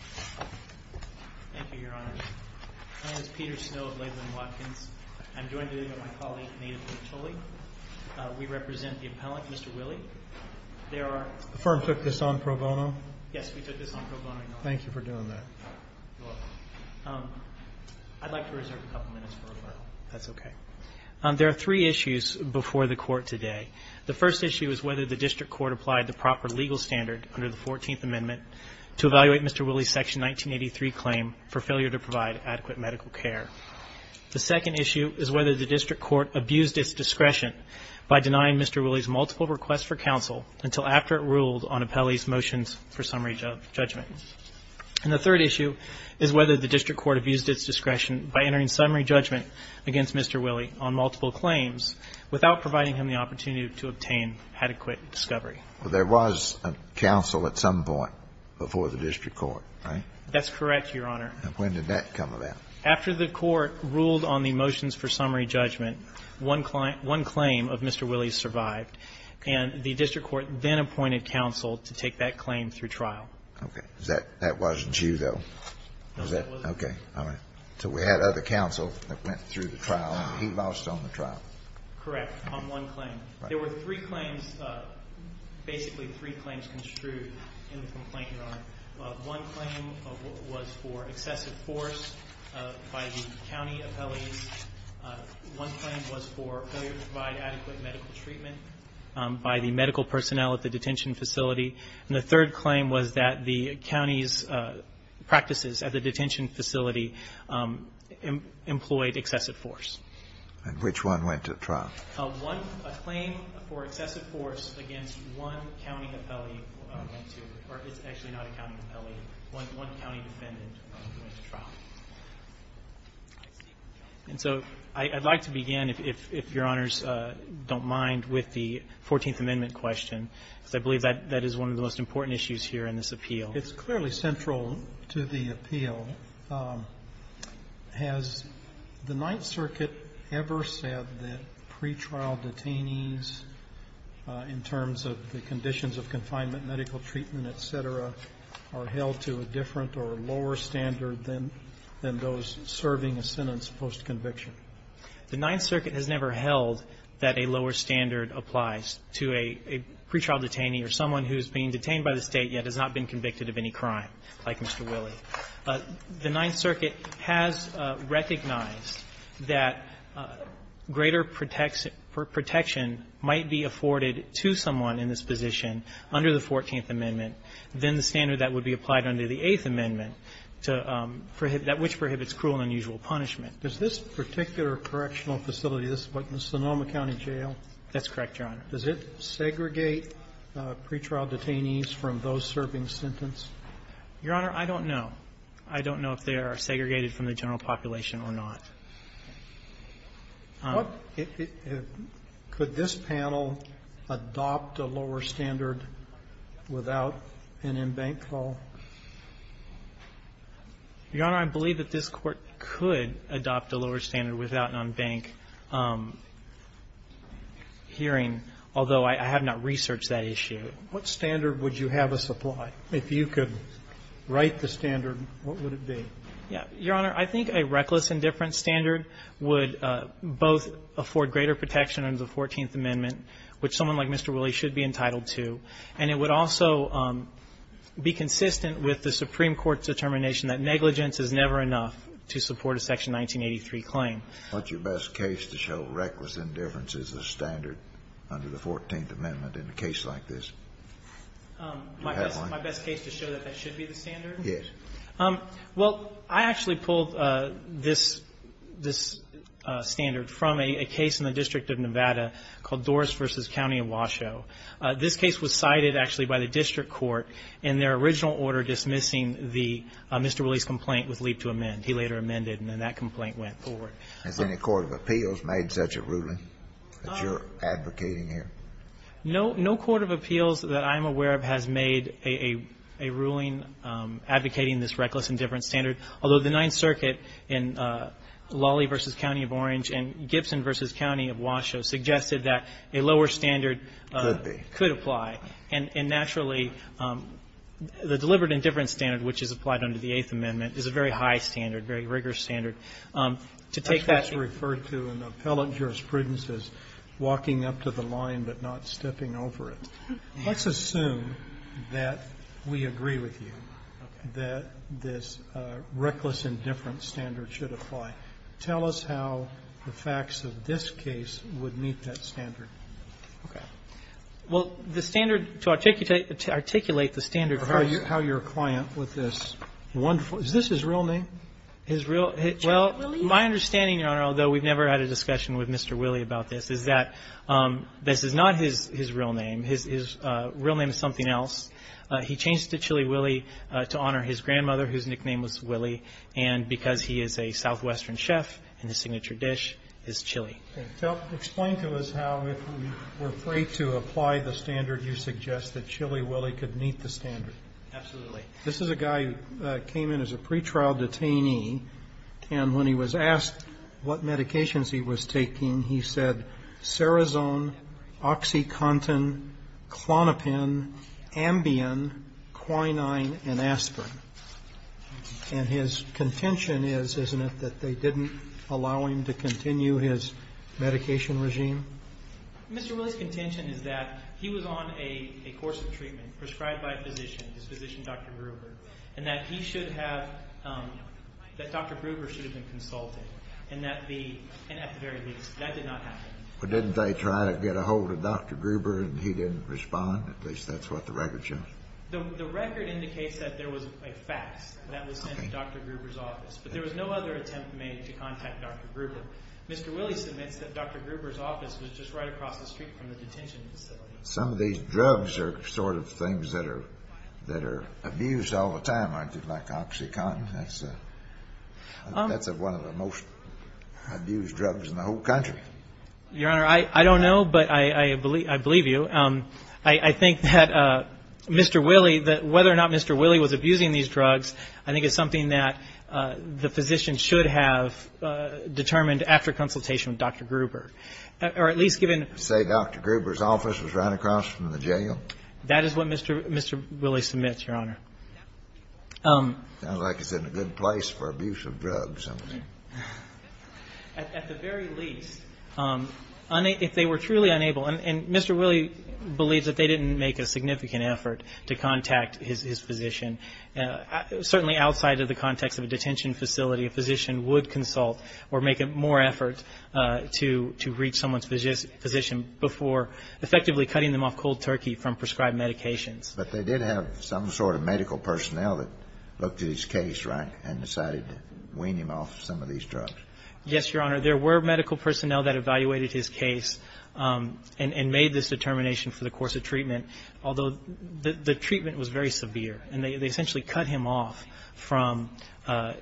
Thank you, Your Honor. My name is Peter Snow of Laidlaw and Watkins. I'm joined today by my colleague, Native Lee Tully. We represent the appellant, Mr. Willie. The firm took this on pro bono? Yes, we took this on pro bono, Your Honor. Thank you for doing that. You're welcome. I'd like to reserve a couple minutes for referral. That's okay. There are three issues before the Court today. The first issue is whether the District Court applied the proper legal standard under the 14th Amendment to evaluate Mr. Willie's Section 1983 claim for failure to provide adequate medical care. The second issue is whether the District Court abused its discretion by denying Mr. Willie's multiple requests for counsel until after it ruled on appellee's motions for summary judgment. And the third issue is whether the District Court abused its discretion by entering summary judgment against Mr. Willie on multiple claims without providing him the opportunity to obtain adequate discovery. Well, there was a counsel at some point before the District Court, right? That's correct, Your Honor. When did that come about? After the Court ruled on the motions for summary judgment, one claim of Mr. Willie survived, and the District Court then appointed counsel to take that claim through trial. Okay. That wasn't you, though? No, it wasn't. Okay. All right. So we had other counsel that went through the trial, and he lost on the trial? Correct, on one claim. There were three claims, basically three claims construed in the complaint, Your Honor. One claim was for excessive force by the county appellees. One claim was for failure to provide adequate medical treatment by the medical personnel at the detention facility. And the third claim was that the county's practices at the detention facility employed excessive force. And which one went to trial? One claim for excessive force against one county appellee went to, or it's actually not a county appellee, one county defendant went to trial. And so I'd like to begin, if Your Honors don't mind, with the Fourteenth Amendment question, because I believe that that is one of the most important issues here in this appeal. It's clearly central to the appeal. Has the Ninth Circuit ever said that pretrial detainees, in terms of the conditions of confinement, medical treatment, et cetera, are held to a different or lower standard than those serving a sentence post-conviction? The Ninth Circuit has never held that a lower standard applies to a pretrial detainee or someone who's been detained by the State yet has not been convicted of any crime, like Mr. Willey. The Ninth Circuit has recognized that greater protection might be afforded to someone in this position under the Fourteenth Amendment than the standard that would be applied under the Eighth Amendment to prohibit that which prohibits cruel and unusual punishment. This particular correctional facility, this Sonoma County Jail? That's correct, Your Honor. Does it segregate pretrial detainees from those serving sentence? Your Honor, I don't know. I don't know if they are segregated from the general population or not. Could this panel adopt a lower standard without an embankment? Your Honor, I believe that this Court could adopt a lower standard without an embankment hearing, although I have not researched that issue. What standard would you have us apply? If you could write the standard, what would it be? Your Honor, I think a reckless indifference standard would both afford greater protection under the Fourteenth Amendment, which someone like Mr. Willey should be entitled to, and it would also be consistent with the Supreme Court's determination that negligence is never enough to support a Section 1983 claim. What's your best case to show reckless indifference is the standard under the Fourteenth Amendment in a case like this? Do you have one? My best case to show that that should be the standard? Yes. Well, I actually pulled this standard from a case in the District of Nevada called Doris v. County of Washoe. This case was cited, actually, by the district court in their original order dismissing the Mr. Willey's complaint with leap to amend. He later amended, and then that complaint went forward. Has any court of appeals made such a ruling that you're advocating here? No. No court of appeals that I'm aware of has made a ruling advocating this reckless indifference standard, although the Ninth Circuit in Lawley v. County of Orange and Gibson v. County of Washoe suggested that a lower standard could apply. Could be. And naturally, the deliberate indifference standard, which is applied under the Eighth Amendment, is a very high standard, very rigorous standard. To take that to refer to an appellate jurisprudence as walking up to the line but not stepping over it, let's assume that we agree with you that this reckless indifference standard should apply. Tell us how the facts of this case would meet that standard. Okay. Well, the standard to articulate the standard for us How your client with this wonderful is this his real name? Well, my understanding, Your Honor, although we've never had a discussion with Mr. Willie about this, is that this is not his real name. His real name is something else. He changed it to Chili Willie to honor his grandmother, whose nickname was Willie, and because he is a southwestern chef and his signature dish is chili. Explain to us how, if we were free to apply the standard, you suggest that Chili Willie could meet the standard. Absolutely. This is a guy who came in as a pretrial detainee, and when he was asked what medications he was taking, he said, Serazone, OxyContin, Klonopin, Ambien, Quinine, and Aspirin. And his contention is, isn't it, that they didn't allow him to continue his medication regime? Mr. Willie's contention is that he was on a course of treatment, prescribed by a physician, his physician, Dr. Gruber, and that he should have, that Dr. Gruber should have been consulted, and that the, and at the very least, that did not happen. But didn't they try to get a hold of Dr. Gruber and he didn't respond? At least that's what the record shows. The record indicates that there was a fax that was sent to Dr. Gruber's office, but there was no other attempt made to contact Dr. Gruber. Mr. Willie submits that Dr. Gruber's office was just right across the street from the detention facility. Some of these drugs are sort of things that are, that are abused all the time, aren't they, like OxyContin? That's a, that's one of the most abused drugs in the whole country. Your Honor, I, I don't know, but I, I believe, I believe you. I, I think that Mr. Willie, that whether or not Mr. Willie was abusing these drugs, I think it's something that the physician should have determined after consultation with Dr. Gruber. Or at least given. Say Dr. Gruber's office was right across from the jail? That is what Mr., Mr. Willie submits, Your Honor. Sounds like it's in a good place for abuse of drugs. At the very least, if they were truly unable, and, and Mr. Willie believes that they didn't make a significant effort to contact his, his physician, certainly outside of the context of a detention facility, a physician would consult or make a more effort to, to reach someone's physician before effectively cutting them off cold turkey from prescribed medications. But they did have some sort of medical personnel that looked at his case, right? And decided to wean him off some of these drugs. Yes, Your Honor. There were medical personnel that evaluated his case and, and made this determination for the course of treatment. Although the, the treatment was very severe. And they, they essentially cut him off from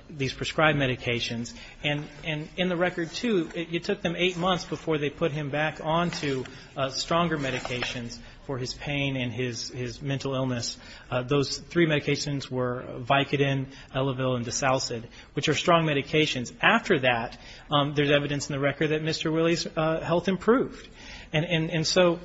these prescribed medications. And, and in the record too, it, it took them eight months before they put him back on to stronger medications for his pain and his, his mental illness. Those three medications were Vicodin, Elevil, and Desalcid, which are strong medications. After that there's evidence in the record that Mr. Willie's health improved. And, and, and so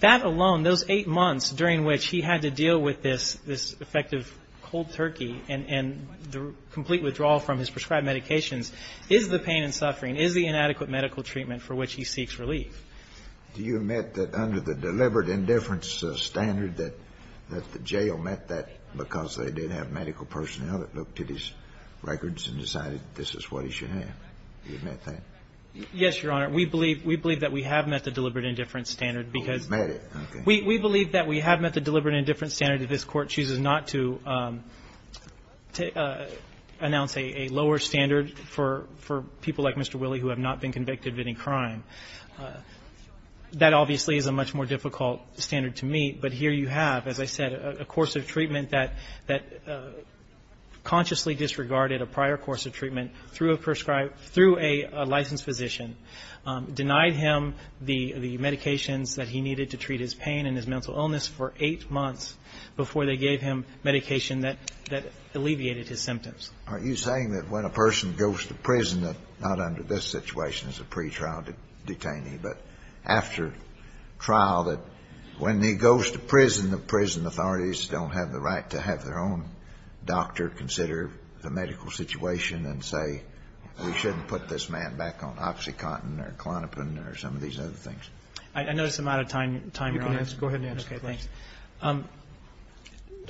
that alone, those eight months during which he had to deal with this, this effective cold turkey and, and the complete withdrawal from his prescribed medications is the pain and suffering, is the inadequate medical treatment for which he seeks relief. Do you admit that under the deliberate indifference standard that, that the jail met that because they did have medical personnel that looked at his records and decided this is what he should have? Do you admit that? Yes, Your Honor. We believe, we believe that we have met the deliberate indifference standard because. Oh, you've met it, okay. We, we believe that we have met the deliberate indifference standard if this Court chooses not to, to announce a, a lower standard for, for people like Mr. Willie who have not been convicted of any crime. That obviously is a much more difficult standard to meet, but here you have, as I said, a course of treatment that, that consciously disregarded a prior course of treatment through a prescribed, through a licensed physician, denied him the, the medications that he needed to treat his pain and his mental illness for 8 months before they gave him medication that, that alleviated his symptoms. Are you saying that when a person goes to prison, that not under this situation as a pretrial detainee, but after trial, that when he goes to prison, the prison authorities don't have the right to have their own doctor consider the medical situation and say we shouldn't put this man back on Oxycontin or Klonopin or some of these other things? I, I notice I'm out of time, time, Your Honor. You can answer, go ahead and answer. Okay, thanks.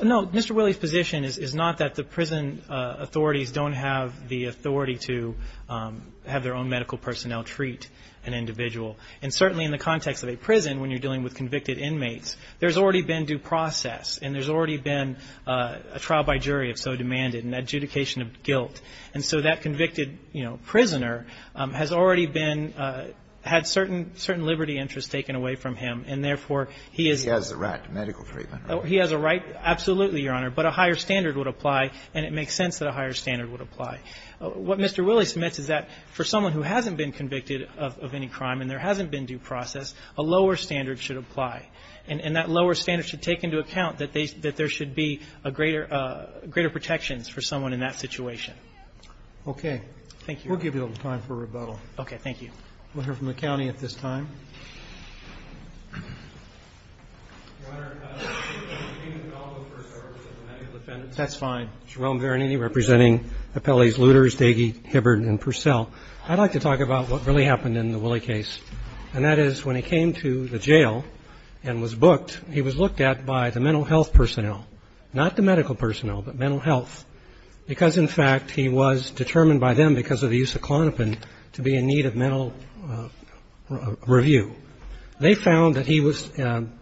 No, Mr. Willie's position is, is not that the prison authorities don't have the authority to have their own medical personnel treat an individual. And certainly in the context of a prison, when you're dealing with convicted inmates, there's already been due process. And there's already been a trial by jury, if so demanded, an adjudication of guilt. And so that convicted, you know, prisoner has already been had certain, certain liberty interests taken away from him. And therefore, he is. He has the right to medical treatment. He has a right, absolutely, Your Honor. But a higher standard would apply. And it makes sense that a higher standard would apply. What Mr. Willie submits is that for someone who hasn't been convicted of, of any crime and there hasn't been due process, a lower standard should apply. And, and that lower standard should take into account that they, that there should be a greater greater protections for someone in that situation. Okay. Thank you. We'll give you a little time for rebuttal. Okay, thank you. We'll hear from the county at this time. Your Honor, I don't think that we need to follow the first orders of the medical defendants. That's fine. Jerome Veronini representing Appellees Luters, Daigie, Hibbard, and Purcell. I'd like to talk about what really happened in the Willie case. And that is, when he came to the jail and was booked, he was looked at by the mental health personnel. Not the medical personnel, but mental health. Because in fact, he was determined by them, because of the use of Klonopin, to be in need of mental review. They found that he was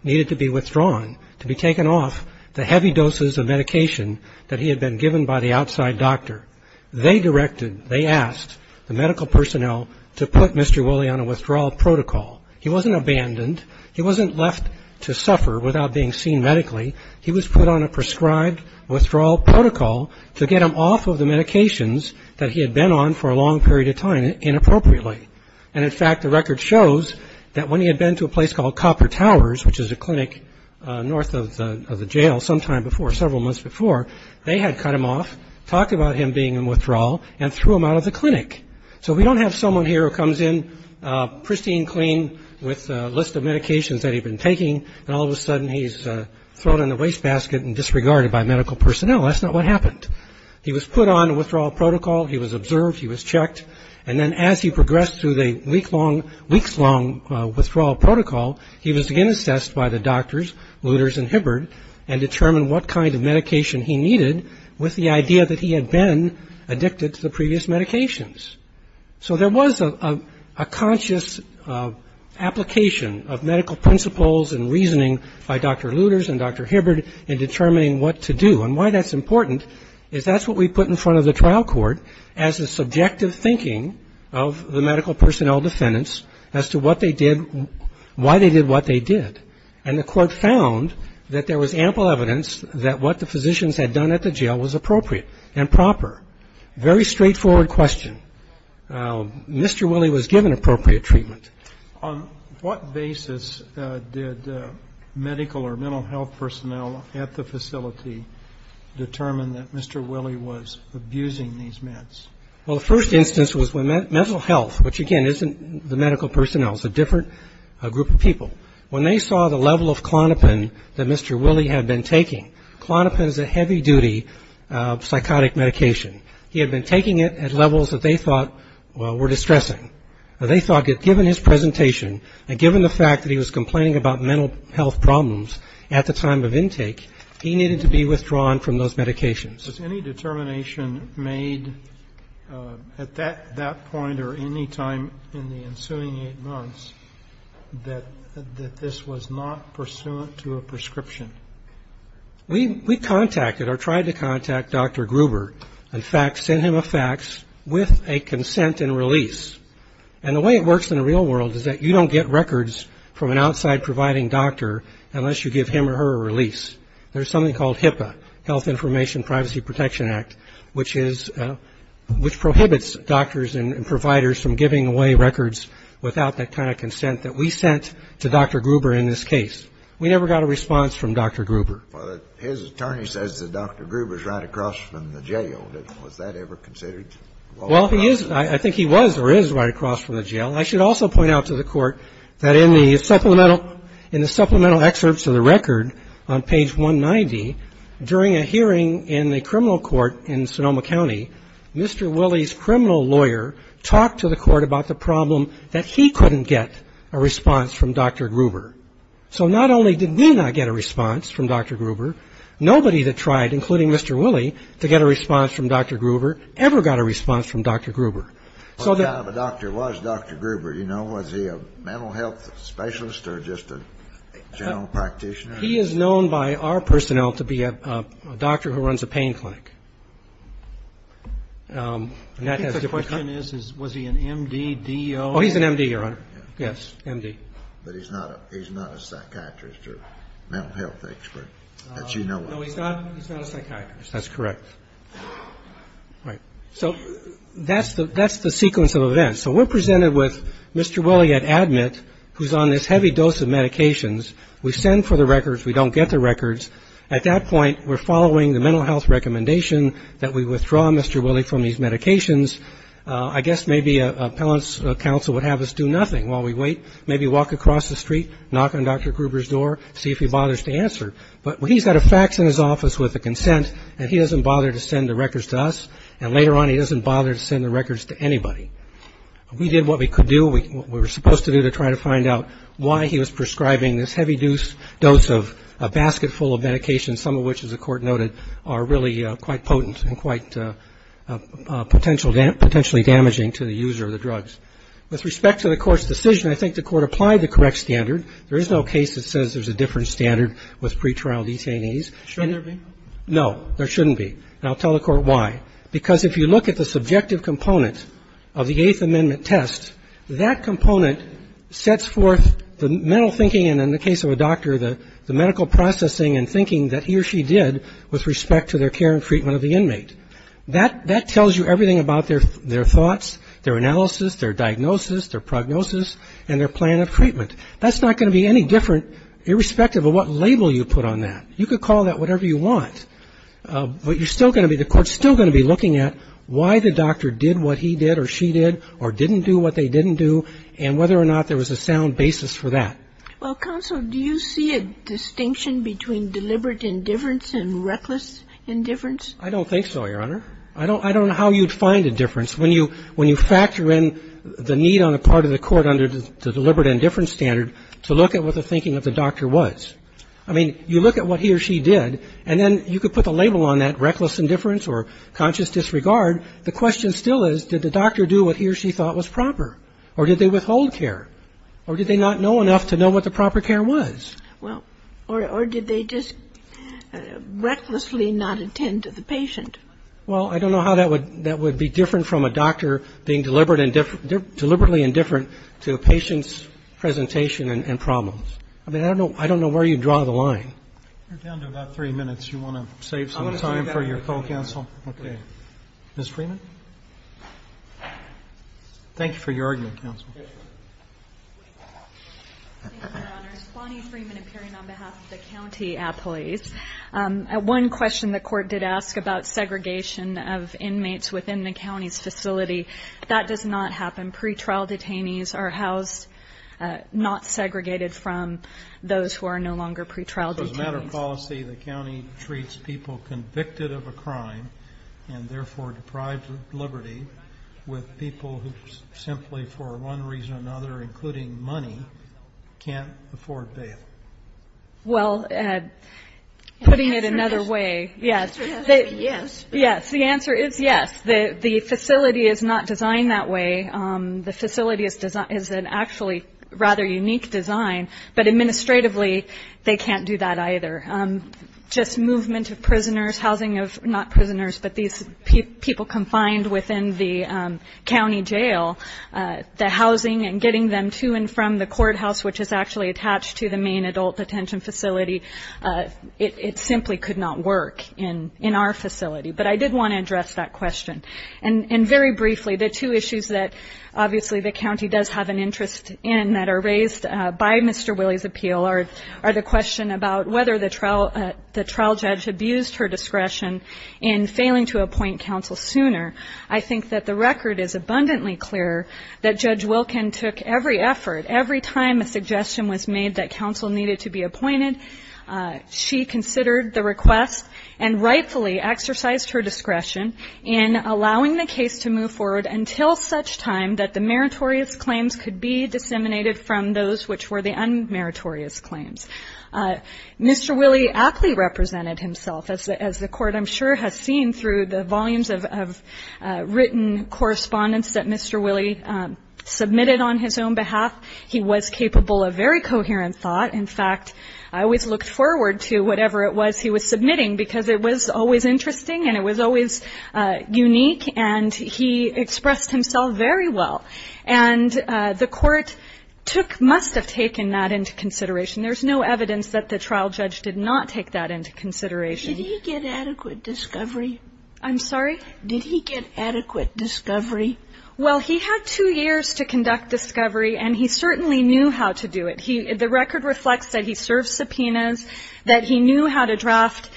needed to be withdrawn, to be taken off the heavy doses of medication that he had been given by the outside doctor. They directed, they asked the medical personnel to put Mr. Willie on a withdrawal protocol. He wasn't abandoned. He wasn't left to suffer without being seen medically. He was put on a prescribed withdrawal protocol to get him off of the medications that he had been on for a long period of time inappropriately. And in fact, the record shows that when he had been to a place called Copper Towers, which is a clinic north of the jail sometime before, several months before, they had cut him off, talked about him being in withdrawal, and threw him out of the clinic. So we don't have someone here who comes in pristine clean with a list of medications that he'd been taking, and all of a sudden he's thrown in the wastebasket and disregarded by medical personnel. That's not what happened. He was put on a withdrawal protocol. He was observed. He was checked. And then as he progressed through the week-long, weeks-long withdrawal protocol, he was again assessed by the doctors, Luters and Hibbard, and determined what kind of medication he needed with the idea that he had been addicted to the previous medications. So there was a conscious application of medical principles and reasoning by Dr. Luters and Dr. Hibbard in determining what to do. And why that's important is that's what we put in front of the trial court as a subjective thinking of the medical personnel defendants as to what they did, why they did what they did. And the court found that there was ample evidence that what the physicians had done at the jail was appropriate and proper. Very straightforward question. Mr. Willie was given appropriate treatment. On what basis did medical or mental health personnel at the facility determine that Mr. Willie was abusing these meds? Well, the first instance was when mental health, which, again, isn't the medical personnel. It's a different group of people. When they saw the level of Klonopin that Mr. Willie had been taking, Klonopin is a heavy-duty psychotic medication. He had been taking it at levels that they thought were distressing. They thought that given his presentation and given the fact that he was complaining about mental health problems at the time of intake, he needed to be withdrawn from those medications. Was any determination made at that point or any time in the ensuing eight months that this was not pursuant to a prescription? We contacted or tried to contact Dr. Gruber. In fact, sent him a fax with a consent and release. And the way it works in the real world is that you don't get records from an outside providing doctor unless you give him or her a release. There's something called HIPAA, Health Information Privacy Protection Act, which prohibits doctors and providers from giving away records without that kind of consent that we sent to Dr. Gruber in this case. We never got a response from Dr. Gruber. But his attorney says that Dr. Gruber is right across from the jail. Was that ever considered? Well, he is. I think he was or is right across from the jail. I should also point out to the Court that in the supplemental excerpts of the record on page 190, during a hearing in the criminal court in Sonoma County, Mr. Willie's criminal lawyer talked to the Court about the problem that he couldn't get a response from Dr. Gruber. So not only did we not get a response from Dr. Gruber, nobody that tried, including Mr. Willie, to get a response from Dr. Gruber ever got a response from Dr. Gruber. So the Dr. was Dr. Gruber, you know, was he a mental health specialist or just a general practitioner? He is known by our personnel to be a doctor who runs a pain clinic. And that has to become Was he an M.D., D.O. Oh, he's an M.D., Your Honor. Yes, M.D. But he's not a psychiatrist or mental health expert, as you know. No, he's not a psychiatrist. That's correct. Right. So that's the sequence of events. So we're presented with Mr. Willie at ADMIT, who's on this heavy dose of medications. We send for the records. We don't get the records. At that point, we're following the mental health recommendation that we withdraw Mr. Willie from these medications. I guess maybe an appellant's counsel would have us do nothing while we wait, maybe walk across the street, knock on Dr. Gruber's door, see if he bothers to answer. But he's got a fax in his office with a consent, and he doesn't bother to send the records to us. And later on, he doesn't bother to send the records to anybody. We did what we could do, what we were supposed to do, to try to find out why he was prescribing this heavy dose of a basket full of medications, some of which, as the Court noted, are really quite potent and quite potentially damaging to the user of the drugs. With respect to the Court's decision, I think the Court applied the correct standard. There is no case that says there's a different standard with pretrial detainees. Should there be? No, there shouldn't be. And I'll tell the Court why. Because if you look at the subjective component of the Eighth Amendment test, that component sets forth the mental thinking, and in the case of a doctor, the medical processing and thinking that he or she did with respect to their care and treatment of the inmate. That tells you everything about their thoughts, their analysis, their diagnosis, their prognosis, and their plan of treatment. That's not going to be any different irrespective of what label you put on that. You could call that whatever you want, but you're still going to be, the Court's still going to be looking at why the doctor did what he did or she did or didn't do what they didn't do, and whether or not there was a sound basis for that. Well, counsel, do you see a distinction between deliberate indifference and reckless indifference? I don't think so, Your Honor. I don't know how you'd find indifference when you factor in the need on the part of the Court under the deliberate indifference standard to look at what the thinking of the doctor was. I mean, you look at what he or she did, and then you could put the label on that, reckless indifference or conscious disregard. The question still is, did the doctor do what he or she thought was proper? Or did they withhold care? Or did they not know enough to know what the proper care was? Well, or did they just recklessly not attend to the patient? Well, I don't know how that would be different from a doctor being deliberate indifferent, deliberately indifferent to a patient's presentation and problems. I mean, I don't know where you'd draw the line. You're down to about three minutes. Do you want to save some time for your co-counsel? Ms. Freeman? Thank you for your argument, counsel. Yes, ma'am. Thank you, Your Honors. Bonnie Freeman appearing on behalf of the county appellees. One question the Court did ask about segregation of inmates within the county's facility. That does not happen. Pre-trial detainees are housed not segregated from those who are no longer pre-trial detainees. So as a matter of policy, the county treats people convicted of a crime and therefore deprives liberty with people who simply for one reason or another, including money, can't afford bail. Well, putting it another way, yes. The answer is yes. Yes, the answer is yes. The facility is not designed that way. The facility is an actually rather unique design. But administratively, they can't do that either. Just movement of prisoners, housing of not prisoners, but these people confined within the county jail, the housing and getting them to and from the courthouse, which is actually attached to the main adult detention facility, it simply could not work in our facility. But I did want to address that question. And very briefly, the two issues that obviously the county does have an interest in that are raised by Mr. Willey's appeal are the question about whether the trial judge abused her discretion in failing to appoint counsel sooner. I think that the record is abundantly clear that Judge Wilken took every effort, every time a suggestion was made that counsel needed to be appointed, she considered the request and rightfully exercised her discretion in allowing the case to move forward until such time that the meritorious claims could be disseminated from those which were the unmeritorious claims. Mr. Willey aptly represented himself, as the Court, I'm sure, has seen through the volumes of written correspondence that Mr. Willey submitted on his own behalf. He was capable of very coherent thought. In fact, I always looked forward to whatever it was he was submitting, because it was always interesting and it was always unique. And he expressed himself very well. And the Court took, must have taken that into consideration. There's no evidence that the trial judge did not take that into consideration. Sotomayor, did he get adequate discovery? I'm sorry? Did he get adequate discovery? Well, he had two years to conduct discovery, and he certainly knew how to do it. The record reflects that he served subpoenas, that he knew how to draft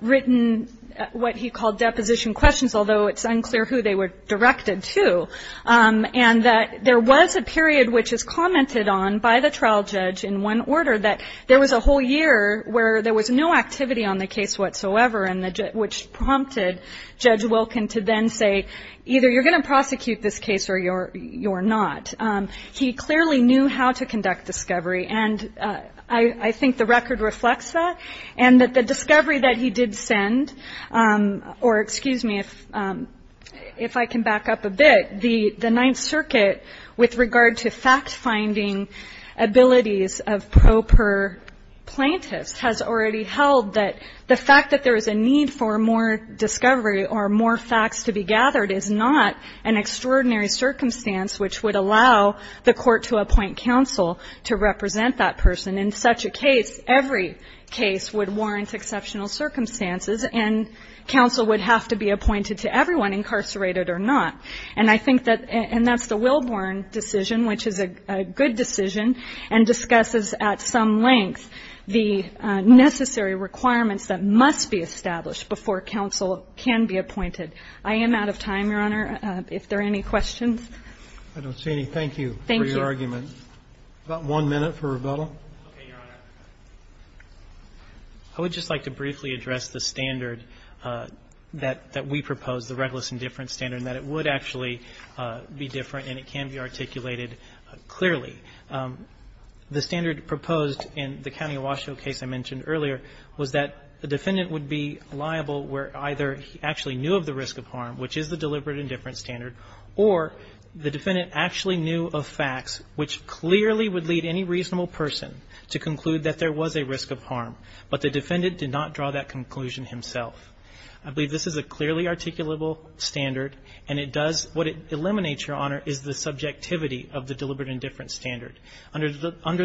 written what he called deposition questions, although it's unclear who they were directed to. And that there was a period, which is commented on by the trial judge in one order, that there was a whole year where there was no activity on the case whatsoever, which prompted Judge Wilkin to then say, either you're going to prosecute this case or you're not. He clearly knew how to conduct discovery, and I think the record reflects that. And that the discovery that he did send, or excuse me, if I can back up a bit, the Ninth Circuit, with regard to fact-finding abilities of proper plaintiffs, has already held that the fact that there is a need for more discovery or more facts to be gathered is not an extraordinary circumstance which would allow the Court to appoint counsel to represent that person. And in such a case, every case would warrant exceptional circumstances, and counsel would have to be appointed to everyone, incarcerated or not. And I think that, and that's the Wilborn decision, which is a good decision, and discusses at some length the necessary requirements that must be established before counsel can be appointed. I am out of time, Your Honor. If there are any questions? I don't see any. Thank you for your argument. About one minute for rebuttal. Okay, Your Honor. I would just like to briefly address the standard that we proposed, the reckless indifference standard, and that it would actually be different and it can be articulated clearly. The standard proposed in the County of Washoe case I mentioned earlier was that the defendant would be liable where either he actually knew of the risk of harm, which is the deliberate of facts which clearly would lead any reasonable person to conclude that there was a risk of harm. But the defendant did not draw that conclusion himself. I believe this is a clearly articulable standard, and it does, what it eliminates, Your Honor, is the subjectivity of the deliberate indifference standard. Under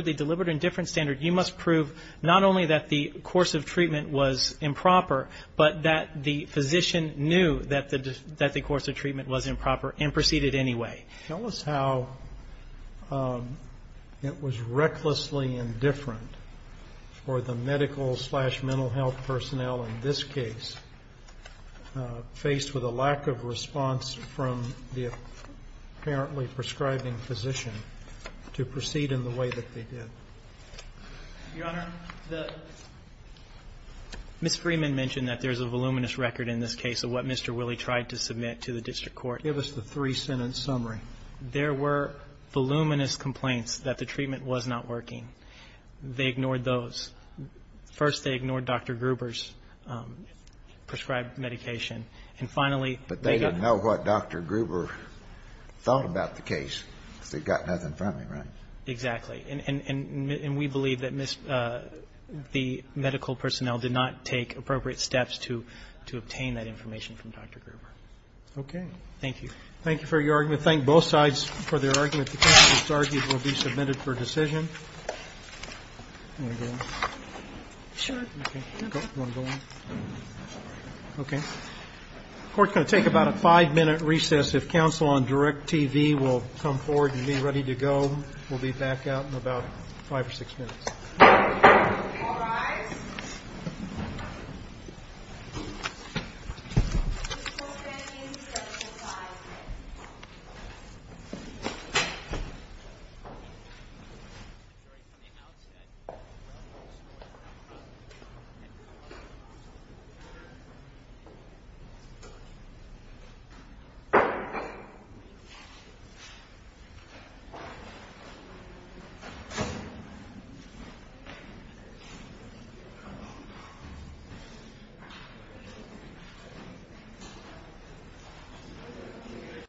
the deliberate indifference standard, you must prove not only that the course of treatment was improper, but that the physician knew that the course of treatment was improper and proceeded anyway. Tell us how it was recklessly indifferent for the medical-slash-mental health personnel in this case, faced with a lack of response from the apparently prescribing physician, to proceed in the way that they did. Your Honor, Ms. Freeman mentioned that there's a voluminous record in this case of what Mr. Willie tried to submit to the district court. Give us the three-sentence summary. There were voluminous complaints that the treatment was not working. They ignored those. First, they ignored Dr. Gruber's prescribed medication. And finally, they got no what Dr. Gruber thought about the case, because they got nothing from him, right? Exactly. And we believe that the medical personnel did not take appropriate steps to obtain that information from Dr. Gruber. Okay. Thank you. Thank you for your argument. Thank both sides for their argument. The case, as argued, will be submitted for decision. Do you want to go on? Sure. Okay. Do you want to go on? Okay. Court's going to take about a five-minute recess. If counsel on direct TV will come forward and be ready to go, we'll be back out in about five or six minutes. All rise. We hope you find this gift informative in your decision-making. Thank you for being here, counsel. Thank you for your hard work, counsel. We hope you found this gift informative in your decision-making. We hope you find this gift informative in your decision-making. Thank you for your hard work, counsel. Thank you for your hard work, counsel.